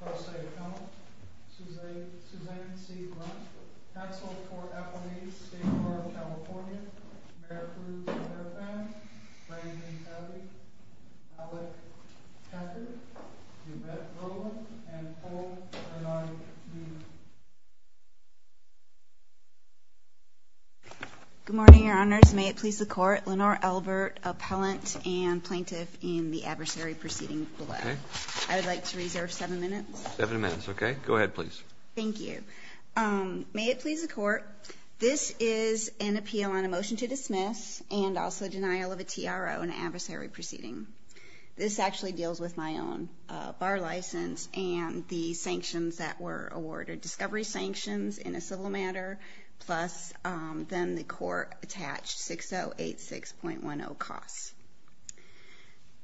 ALBERT-SHERIDAN, SUSANNE C. BRUNSKILL, TEXEL, FORT EPPERNESE, STATE CORE OF CALIFORNIA, MEREKLUID, LENORE ELBERT, APPELLANT, AND PLAINTIFF IN THE ADVERSARY PROCEEDING BELOW. I would like to reserve seven minutes. Seven minutes, okay. Go ahead, please. Thank you. May it please the court, this is an appeal on a motion to dismiss and also denial of a TRO, an adversary proceeding. This actually deals with my own bar license and the sanctions that were awarded, discovery sanctions in a civil matter, plus then the court attached 6086.10 costs.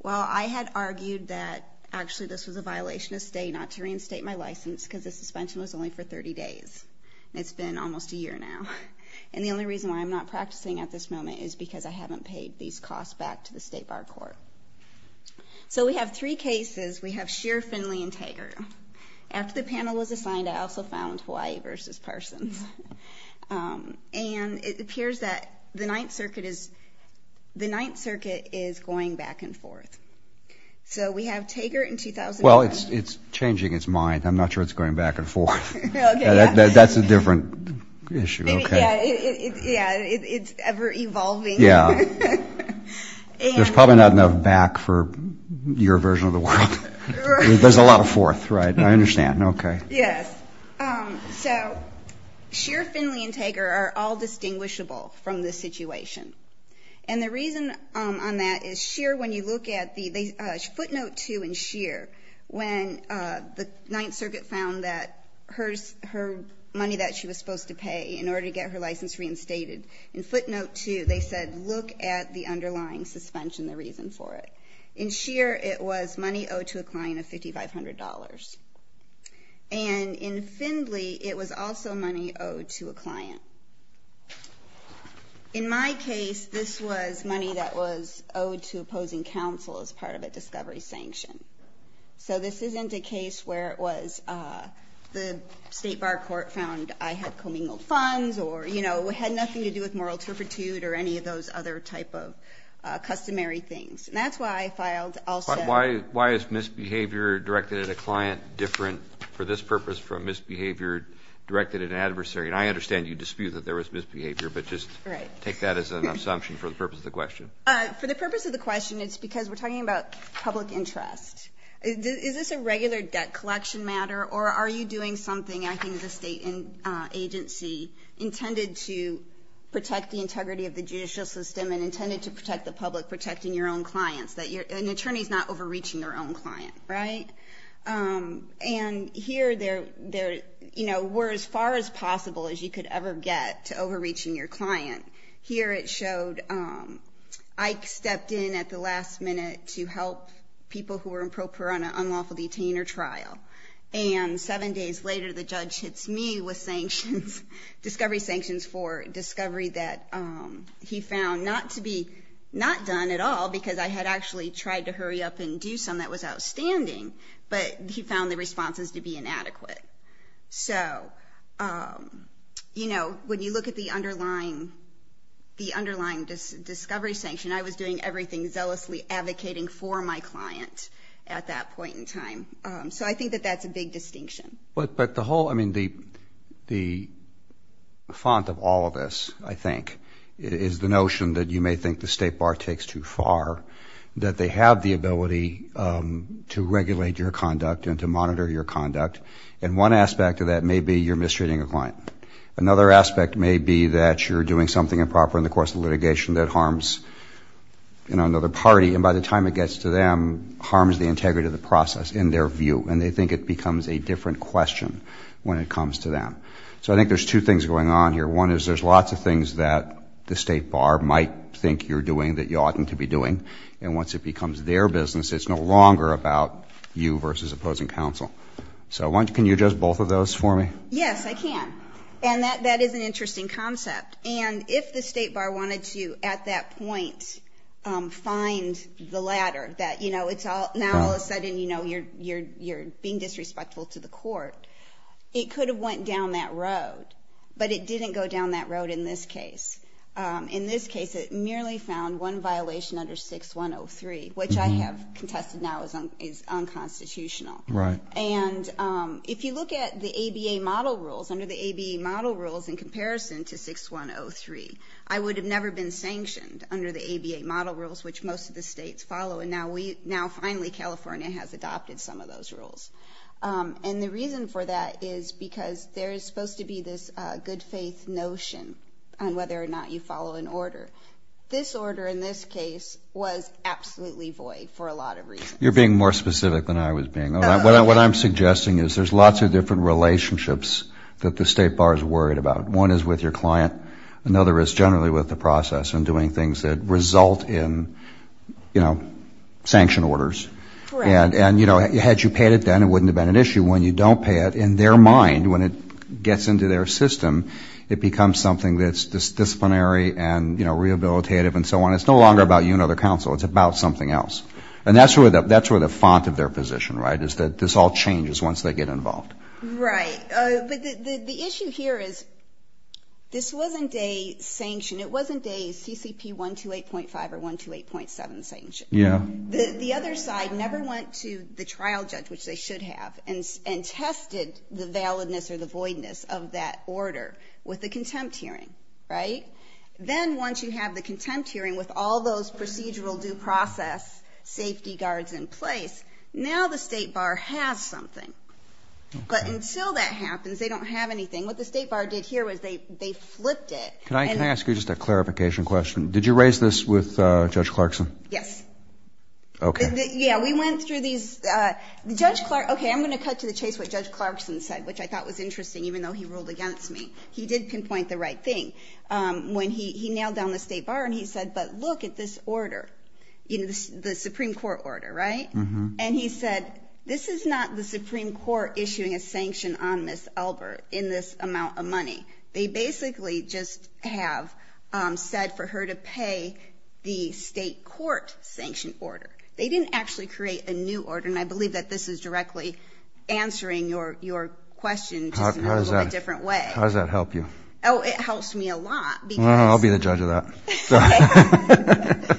Well, I had argued that actually this was a violation of state not to reinstate my license because the suspension was only for 30 days. And it's been almost a year now. And the only reason why I'm not practicing at this moment is because I haven't paid these costs back to the state bar court. So we have three cases. We have Scheer, Finley, and Tager. After the panel was assigned, I also found Hawaii versus Parsons. And it appears that the Ninth Circuit is going back and forth. So we have Tager in 2005. Well, it's changing its mind. I'm not sure it's going back and forth. That's a different issue. Yeah, it's ever evolving. Yeah. There's probably not enough back for your version of the world. There's a lot of forth, right. I understand. Okay. Yes. So Scheer, Finley, and Tager are all distinguishable from this situation. And the reason on that is Scheer, when you look at the footnote 2 in Scheer, when the Ninth Circuit found that her money that she was supposed to pay in order to get her license reinstated, in footnote 2 they said look at the underlying suspension, the reason for it. In Scheer, it was money owed to a client of $5,500. And in Finley, it was also money owed to a client. In my case, this was money that was owed to opposing counsel as part of a discovery sanction. So this isn't a case where it was the state bar court found I had commingled funds or, you know, had nothing to do with moral turpitude or any of those other type of customary things. And that's why I filed also. Why is misbehavior directed at a client different for this purpose from misbehavior directed at an adversary? And I understand you dispute that there was misbehavior, but just take that as an assumption for the purpose of the question. For the purpose of the question, it's because we're talking about public interest. Is this a regular debt collection matter, or are you doing something acting as a state agency intended to protect the integrity of the judicial system and intended to protect the public, protecting your own clients? An attorney's not overreaching their own client, right? And here there were as far as possible as you could ever get to overreaching your client. Here it showed Ike stepped in at the last minute to help people who were in pro per on an unlawful detain or trial. And seven days later, the judge hits me with sanctions, discovery sanctions for discovery that he found not to be not done at all because I had actually tried to hurry up and do some that was outstanding, but he found the responses to be inadequate. So, you know, when you look at the underlying discovery sanction, I was doing everything zealously advocating for my client at that point in time. So I think that that's a big distinction. But the whole, I mean, the font of all of this, I think, is the notion that you may think the state bar takes too far, that they have the ability to regulate your conduct and to monitor your conduct. And one aspect of that may be you're mistreating a client. Another aspect may be that you're doing something improper in the course of litigation that harms, you know, another party. And by the time it gets to them, harms the integrity of the process in their view, and they think it becomes a different question when it comes to them. So I think there's two things going on here. One is there's lots of things that the state bar might think you're doing that you oughtn't to be doing. And once it becomes their business, it's no longer about you versus opposing counsel. So can you address both of those for me? Yes, I can. And that is an interesting concept. And if the state bar wanted to, at that point, find the latter, that, you know, now all of a sudden, you know, you're being disrespectful to the court, it could have went down that road. But it didn't go down that road in this case. In this case, it merely found one violation under 6103, which I have contested now is unconstitutional. Right. And if you look at the ABA model rules, under the ABA model rules, in comparison to 6103, I would have never been sanctioned under the ABA model rules, which most of the states follow. And now finally California has adopted some of those rules. And the reason for that is because there is supposed to be this good faith notion on whether or not you follow an order. This order in this case was absolutely void for a lot of reasons. You're being more specific than I was being. What I'm suggesting is there's lots of different relationships that the state bar is worried about. One is with your client. Another is generally with the process and doing things that result in, you know, sanction orders. And, you know, had you paid it then, it wouldn't have been an issue. When you don't pay it, in their mind, when it gets into their system, it becomes something that's disciplinary and, you know, rehabilitative and so on. It's no longer about you and other counsel. It's about something else. And that's where the font of their position, right, is that this all changes once they get involved. Right. But the issue here is this wasn't a sanction. It wasn't a CCP 128.5 or 128.7 sanction. Yeah. The other side never went to the trial judge, which they should have, and tested the validness or the voidness of that order with the contempt hearing, right? Then once you have the contempt hearing with all those procedural due process safety guards in place, now the state bar has something. But until that happens, they don't have anything. What the state bar did here was they flipped it. Can I ask you just a clarification question? Did you raise this with Judge Clarkson? Yes. Okay. Yeah, we went through these. Okay, I'm going to cut to the chase what Judge Clarkson said, which I thought was interesting, even though he ruled against me. He did pinpoint the right thing. He nailed down the state bar and he said, but look at this order, the Supreme Court order, right? Mm-hmm. And he said, this is not the Supreme Court issuing a sanction on Ms. Elbert in this amount of money. They basically just have said for her to pay the state court sanction order. They didn't actually create a new order, and I believe that this is directly answering your question, just in a little bit different way. How does that help you? Oh, it helps me a lot. I'll be the judge of that.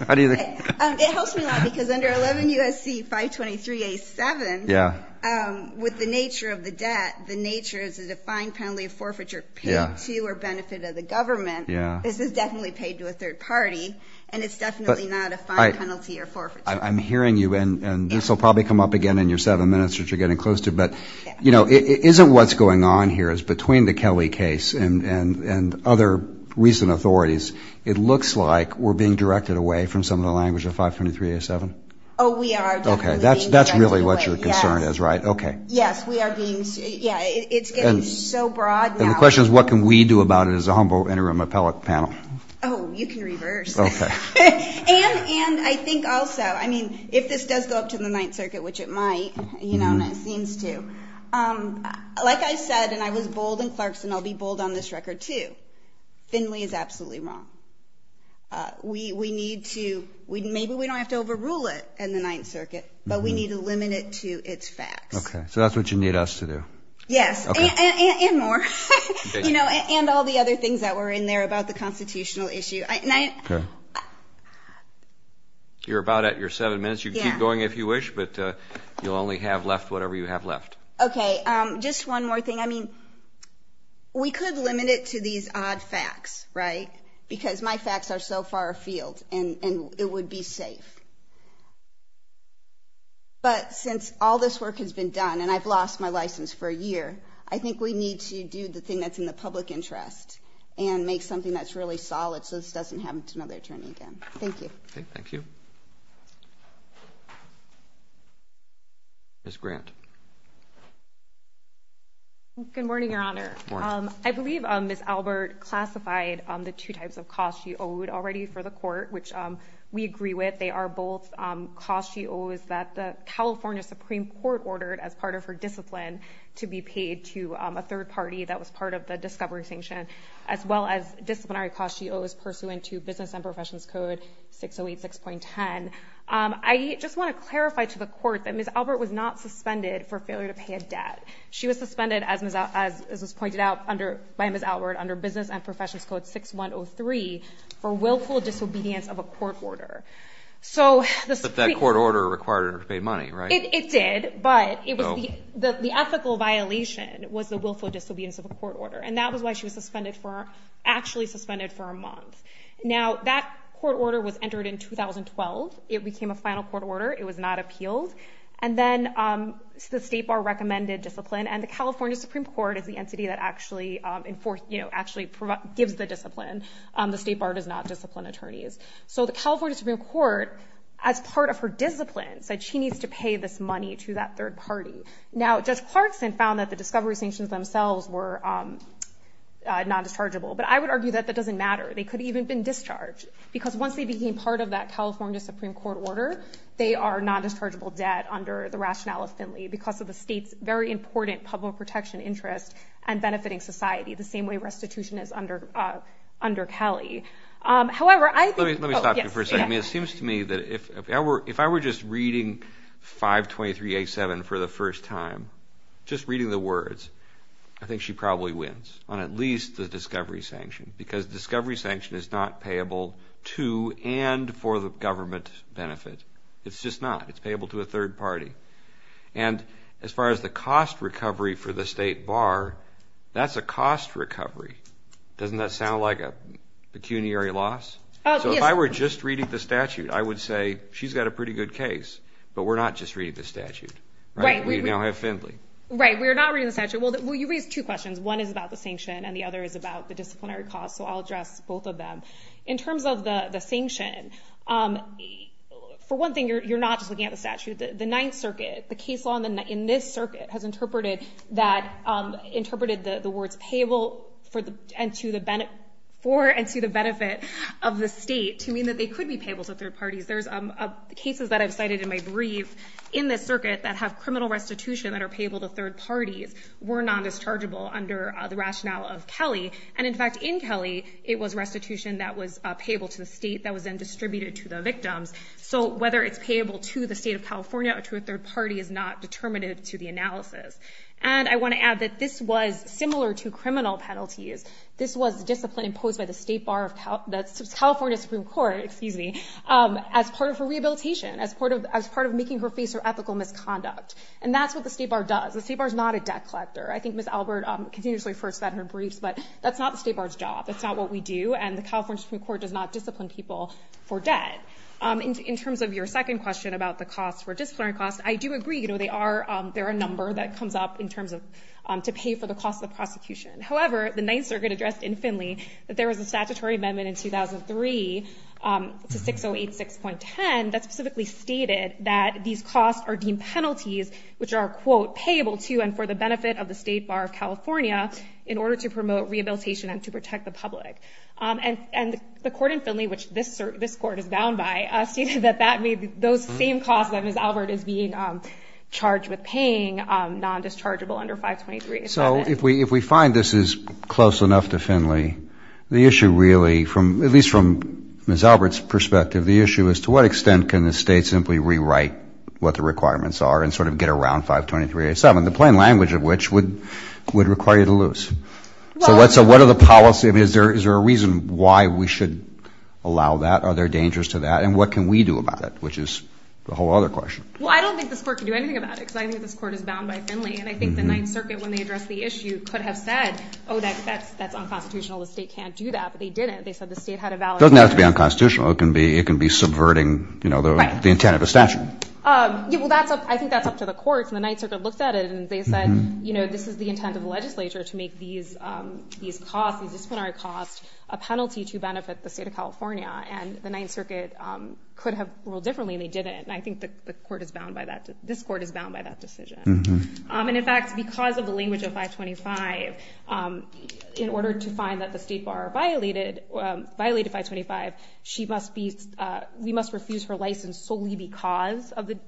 How do you think? It helps me a lot because under 11 U.S.C. 523A7, with the nature of the debt, the nature is a defined penalty of forfeiture paid to or benefit of the government. This is definitely paid to a third party, and it's definitely not a fine penalty or forfeiture. I'm hearing you, and this will probably come up again in your seven minutes, which you're getting close to. But, you know, isn't what's going on here is between the Kelly case and other recent authorities, it looks like we're being directed away from some of the language of 523A7? Oh, we are definitely being directed away. Okay. That's really what your concern is, right? Yes. Okay. Yes, we are being, yeah, it's getting so broad now. And the question is, what can we do about it as a humble interim appellate panel? Oh, you can reverse. Okay. And I think also, I mean, if this does go up to the Ninth Circuit, which it might, you know, and it seems to, like I said, and I was bold in Clarkson, I'll be bold on this record, too. I think Finley is absolutely wrong. We need to, maybe we don't have to overrule it in the Ninth Circuit, but we need to limit it to its facts. Okay. So that's what you need us to do. Yes. Okay. And more. You know, and all the other things that were in there about the constitutional issue. You're about at your seven minutes. You can keep going if you wish, but you'll only have left whatever you have left. Okay. Just one more thing. I mean, we could limit it to these odd facts, right, because my facts are so far afield, and it would be safe. But since all this work has been done, and I've lost my license for a year, I think we need to do the thing that's in the public interest and make something that's really solid so this doesn't happen to another attorney again. Thank you. Thank you. Thank you. Ms. Grant. Good morning, Your Honor. Good morning. I believe Ms. Albert classified the two types of costs she owed already for the court, which we agree with. They are both costs she owes that the California Supreme Court ordered as part of her discipline to be paid to a third party that was part of the discovery sanction, as well as disciplinary costs she owes pursuant to Business and Professions Code 6086.10. I just want to clarify to the court that Ms. Albert was not suspended for failure to pay a debt. She was suspended, as was pointed out by Ms. Albert, under Business and Professions Code 6103 for willful disobedience of a court order. But that court order required her to pay money, right? It did, but the ethical violation was the willful disobedience of a court order, and that was why she was actually suspended for a month. Now, that court order was entered in 2012. It became a final court order. It was not appealed, and then the State Bar recommended discipline, and the California Supreme Court is the entity that actually gives the discipline. The State Bar does not discipline attorneys. So the California Supreme Court, as part of her discipline, said she needs to pay this money to that third party. Now, Judge Clarkson found that the discovery sanctions themselves were nondischargeable, but I would argue that that doesn't matter. They could have even been discharged because once they became part of that California Supreme Court order, they are nondischargeable debt under the rationale of Finley because of the state's very important public protection interest and benefiting society, the same way restitution is under Kelly. However, I think— Let me stop you for a second. It seems to me that if I were just reading 523A7 for the first time, just reading the words, I think she probably wins on at least the discovery sanction because discovery sanction is not payable to and for the government benefit. It's just not. It's payable to a third party. And as far as the cost recovery for the State Bar, that's a cost recovery. Doesn't that sound like a pecuniary loss? Yes. So if I were just reading the statute, I would say she's got a pretty good case, but we're not just reading the statute. Right. We now have Finley. Right. We are not reading the statute. Well, you raised two questions. One is about the sanction and the other is about the disciplinary cost, so I'll address both of them. In terms of the sanction, for one thing, you're not just looking at the statute. The Ninth Circuit, the case law in this circuit has interpreted the words payable for and to the benefit of the state to mean that they could be payable to third parties. There's cases that I've cited in my brief in this circuit that have criminal restitution that are payable to third parties were non-dischargeable under the rationale of Kelly. And, in fact, in Kelly, it was restitution that was payable to the state that was then distributed to the victims. So whether it's payable to the state of California or to a third party is not determinative to the analysis. And I want to add that this was similar to criminal penalties. This was discipline imposed by the California Supreme Court as part of her rehabilitation, as part of making her face her ethical misconduct. And that's what the state bar does. The state bar is not a debt collector. I think Ms. Albert continuously refers to that in her briefs, but that's not the state bar's job. That's not what we do, and the California Supreme Court does not discipline people for debt. In terms of your second question about the cost for disciplinary costs, I do agree. There are a number that comes up in terms of to pay for the cost of the prosecution. However, the Ninth Circuit addressed in Finley that there was a statutory amendment in 2003 to 6086.10 that specifically stated that these costs are deemed penalties which are, quote, payable to and for the benefit of the state bar of California in order to promote rehabilitation and to protect the public. And the court in Finley, which this court is bound by, stated that those same costs that Ms. Albert is being charged with paying, non-dischargeable under 523.87. So if we find this is close enough to Finley, the issue really, at least from Ms. Albert's perspective, the issue is to what extent can the state simply rewrite what the requirements are and sort of get around 523.87, the plain language of which would require you to lose? So what are the policies? Is there a reason why we should allow that? Are there dangers to that? And what can we do about it, which is the whole other question. Well, I don't think this court can do anything about it because I think this court is bound by Finley. And I think the Ninth Circuit, when they addressed the issue, could have said, oh, that's unconstitutional. The state can't do that. But they didn't. They said the state had a valid right. It doesn't have to be unconstitutional. It can be subverting the intent of a statute. And the Ninth Circuit looked at it and they said, you know, this is the intent of the legislature to make these costs, these disciplinary costs, a penalty to benefit the state of California. And the Ninth Circuit could have ruled differently and they didn't. And I think the court is bound by that. This court is bound by that decision. And, in fact, because of the language of 525, in order to find that the state bar violated 525, we must refuse her license solely because of the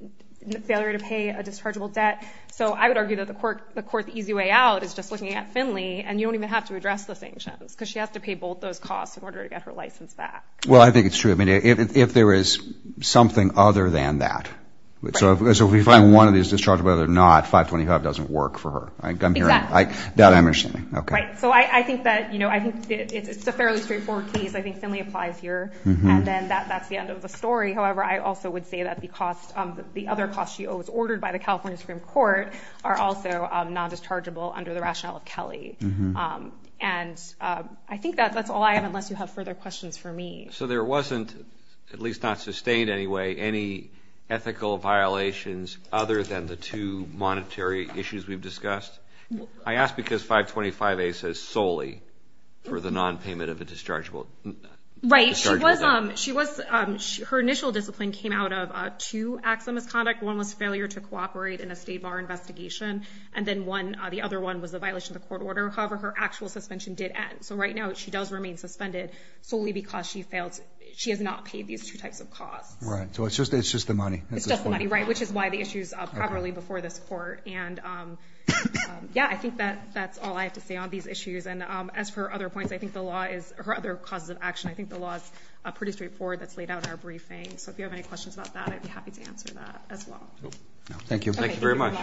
failure to pay a dischargeable debt. So I would argue that the court, the easy way out is just looking at Finley and you don't even have to address the sanctions because she has to pay both those costs in order to get her license back. Well, I think it's true. I mean, if there is something other than that, so if we find one of these dischargeable debt or not, 525 doesn't work for her. Exactly. That I'm understanding. Right. So I think that, you know, I think it's a fairly straightforward case. I think Finley applies here. And then that's the end of the story. However, I also would say that the cost, she owes ordered by the California Supreme Court, are also non-dischargeable under the rationale of Kelly. And I think that's all I have unless you have further questions for me. So there wasn't, at least not sustained anyway, any ethical violations other than the two monetary issues we've discussed? I ask because 525A says solely for the non-payment of a dischargeable debt. Right. Her initial discipline came out of two acts of misconduct. One was failure to cooperate in a state bar investigation. And then the other one was a violation of the court order. However, her actual suspension did end. So right now she does remain suspended solely because she failed. She has not paid these two types of costs. Right. So it's just the money. It's just the money, right, which is why the issues properly before this court. And, yeah, I think that's all I have to say on these issues. And as for other points, I think the law is, or other causes of action, I think the law is pretty straightforward that's laid out in our briefing. So if you have any questions about that, I'd be happy to answer that as well. Thank you. Thank you very much.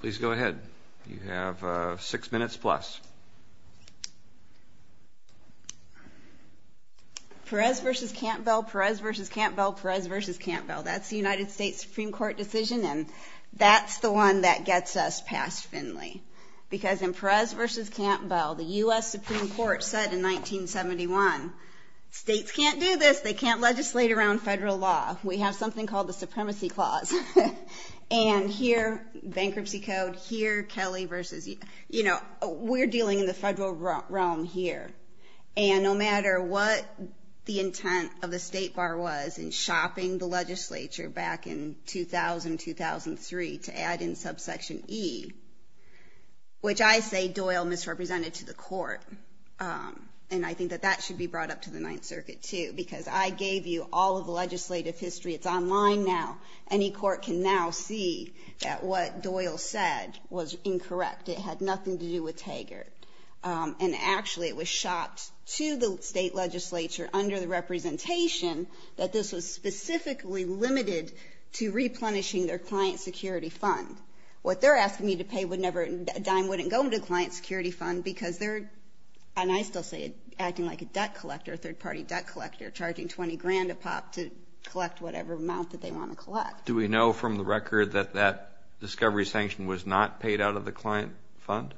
Please go ahead. You have six minutes plus. Perez v. Cantwell, Perez v. Cantwell, Perez v. Cantwell. That's the United States Supreme Court decision, and that's the one that gets us past Finley. Because in Perez v. Cantwell, the U.S. Supreme Court said in 1971, states can't do this. They can't legislate around federal law. We have something called the Supremacy Clause. And here, bankruptcy code. Here, Kelly versus, you know, we're dealing in the federal realm here. And no matter what the intent of the state bar was in shopping the legislature back in 2000, 2003, to add in subsection E, which I say Doyle misrepresented to the court, and I think that that should be brought up to the Ninth Circuit too, because I gave you all of the legislative history. It's online now. Any court can now see that what Doyle said was incorrect. It had nothing to do with Taggart. And actually, it was shot to the state legislature under the representation that this was specifically limited to replenishing their client security fund. What they're asking me to pay would never, a dime wouldn't go into the client security fund because they're, and I still say it, acting like a debt collector, a third-party debt collector, charging 20 grand a pop to collect whatever amount that they want to collect. Do we know from the record that that discovery sanction was not paid out of the client fund?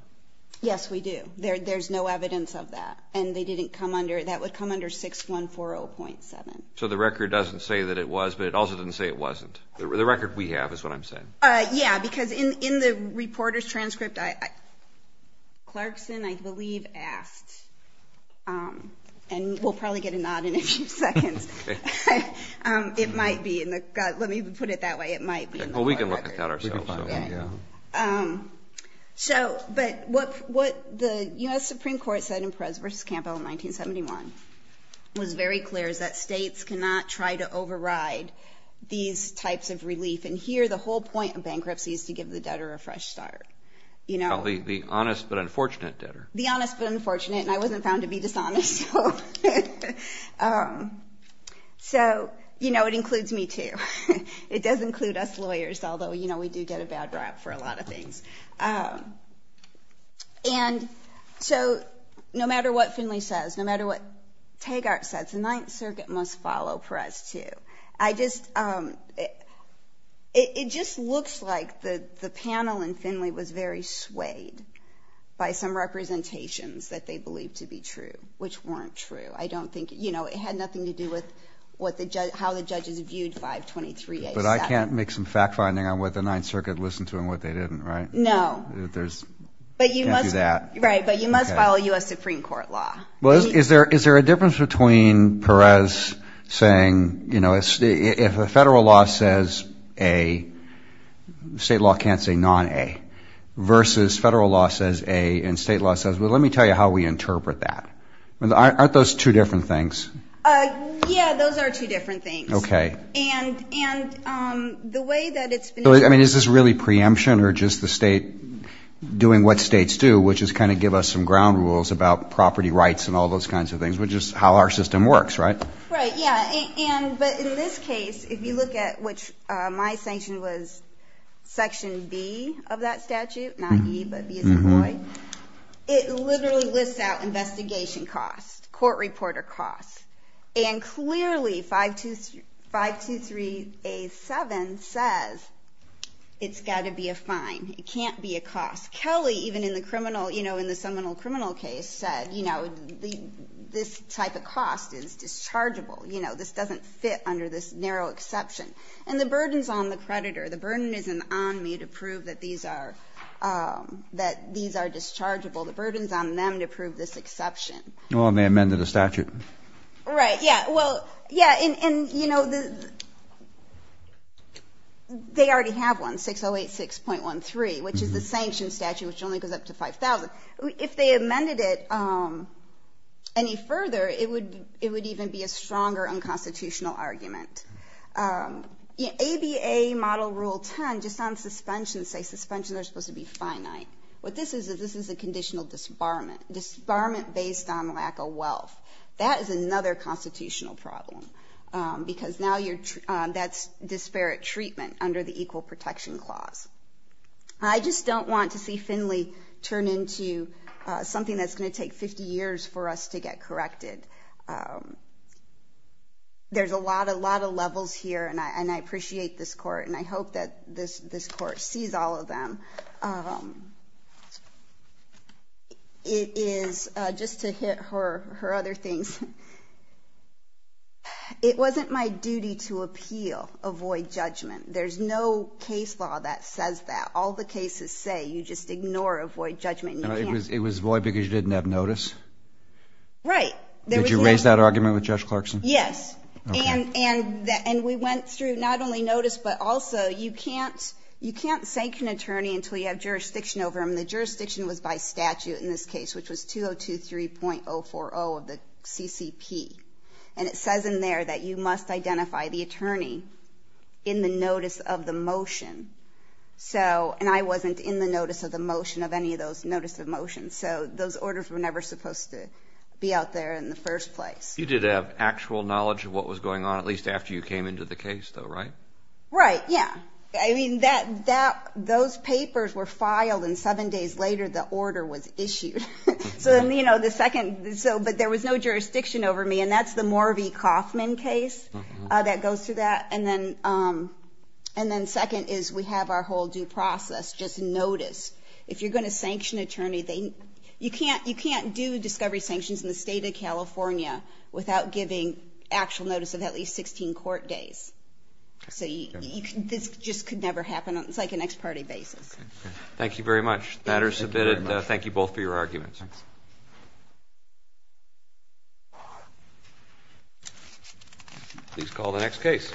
Yes, we do. There's no evidence of that. And they didn't come under, that would come under 6140.7. So the record doesn't say that it was, but it also didn't say it wasn't. The record we have is what I'm saying. Yeah, because in the reporter's transcript, Clarkson, I believe, asked, and we'll probably get a nod in a few seconds. It might be in the, let me put it that way. It might be in the record. Well, we can look at that ourselves. So, but what the U.S. Supreme Court said in Perez v. Campbell in 1971 was very clear is that states cannot try to override these types of relief. And here the whole point of bankruptcy is to give the debtor a fresh start. The honest but unfortunate debtor. The honest but unfortunate, and I wasn't found to be dishonest. So, you know, it includes me too. It does include us lawyers, although, you know, we do get a bad rap for a lot of things. And so no matter what Finley says, no matter what Taggart says, the Ninth Circuit must follow Perez too. I just, it just looks like the panel in Finley was very swayed by some representations that they believed to be true, which weren't true. I don't think, you know, it had nothing to do with how the judges viewed 523A7. But I can't make some fact-finding on what the Ninth Circuit listened to and what they didn't, right? No. There's, can't do that. Right, but you must follow U.S. Supreme Court law. Well, is there a difference between Perez saying, you know, if a federal law says A, state law can't say non-A, versus federal law says A and state law says, well, let me tell you how we interpret that. Aren't those two different things? Yeah, those are two different things. Okay. And the way that it's been interpreted. I mean, is this really preemption or just the state doing what states do, which is kind of give us some ground rules about property rights and all those kinds of things, which is how our system works, right? Right, yeah, but in this case, if you look at which my sanction was Section B of that statute, not E but B as in boy, it literally lists out investigation costs, court reporter costs. And clearly 523A7 says it's got to be a fine. It can't be a cost. Kelly, even in the criminal, you know, in the seminal criminal case said, you know, this type of cost is dischargeable. You know, this doesn't fit under this narrow exception. And the burden's on the creditor. The burden isn't on me to prove that these are dischargeable. The burden's on them to prove this exception. Well, they amended the statute. Right, yeah, well, yeah, and, you know, they already have one, 6086.13, which is the sanction statute, which only goes up to 5,000. If they amended it any further, it would even be a stronger unconstitutional argument. You know, ABA Model Rule 10, just on suspension, say suspension, they're supposed to be finite. What this is is this is a conditional disbarment, disbarment based on lack of wealth. That is another constitutional problem, because now that's disparate treatment under the Equal Protection Clause. I just don't want to see Finley turn into something that's going to take 50 years for us to get corrected. There's a lot of levels here, and I appreciate this court, and I hope that this court sees all of them. It is, just to hit her other things, it wasn't my duty to appeal a void judgment. There's no case law that says that. All the cases say you just ignore a void judgment. It was void because you didn't have notice? Right. Did you raise that argument with Judge Clarkson? Yes, and we went through not only notice, but also you can't say an attorney until you have jurisdiction over them. The jurisdiction was by statute in this case, which was 2023.040 of the CCP, and it says in there that you must identify the attorney in the notice of the motion, and I wasn't in the notice of the motion of any of those notice of motions, so those orders were never supposed to be out there in the first place. You did have actual knowledge of what was going on, at least after you came into the case, though, right? Right, yeah. I mean, those papers were filed, and seven days later the order was issued. But there was no jurisdiction over me, and that's the Morvey-Kaufman case that goes through that. And then second is we have our whole due process, just notice. If you're going to sanction an attorney, you can't do discovery sanctions in the state of California without giving actual notice of at least 16 court days. So this just could never happen. It's like an ex parte basis. Thank you very much. The matter is submitted. Thank you both for your arguments. Please call the next case.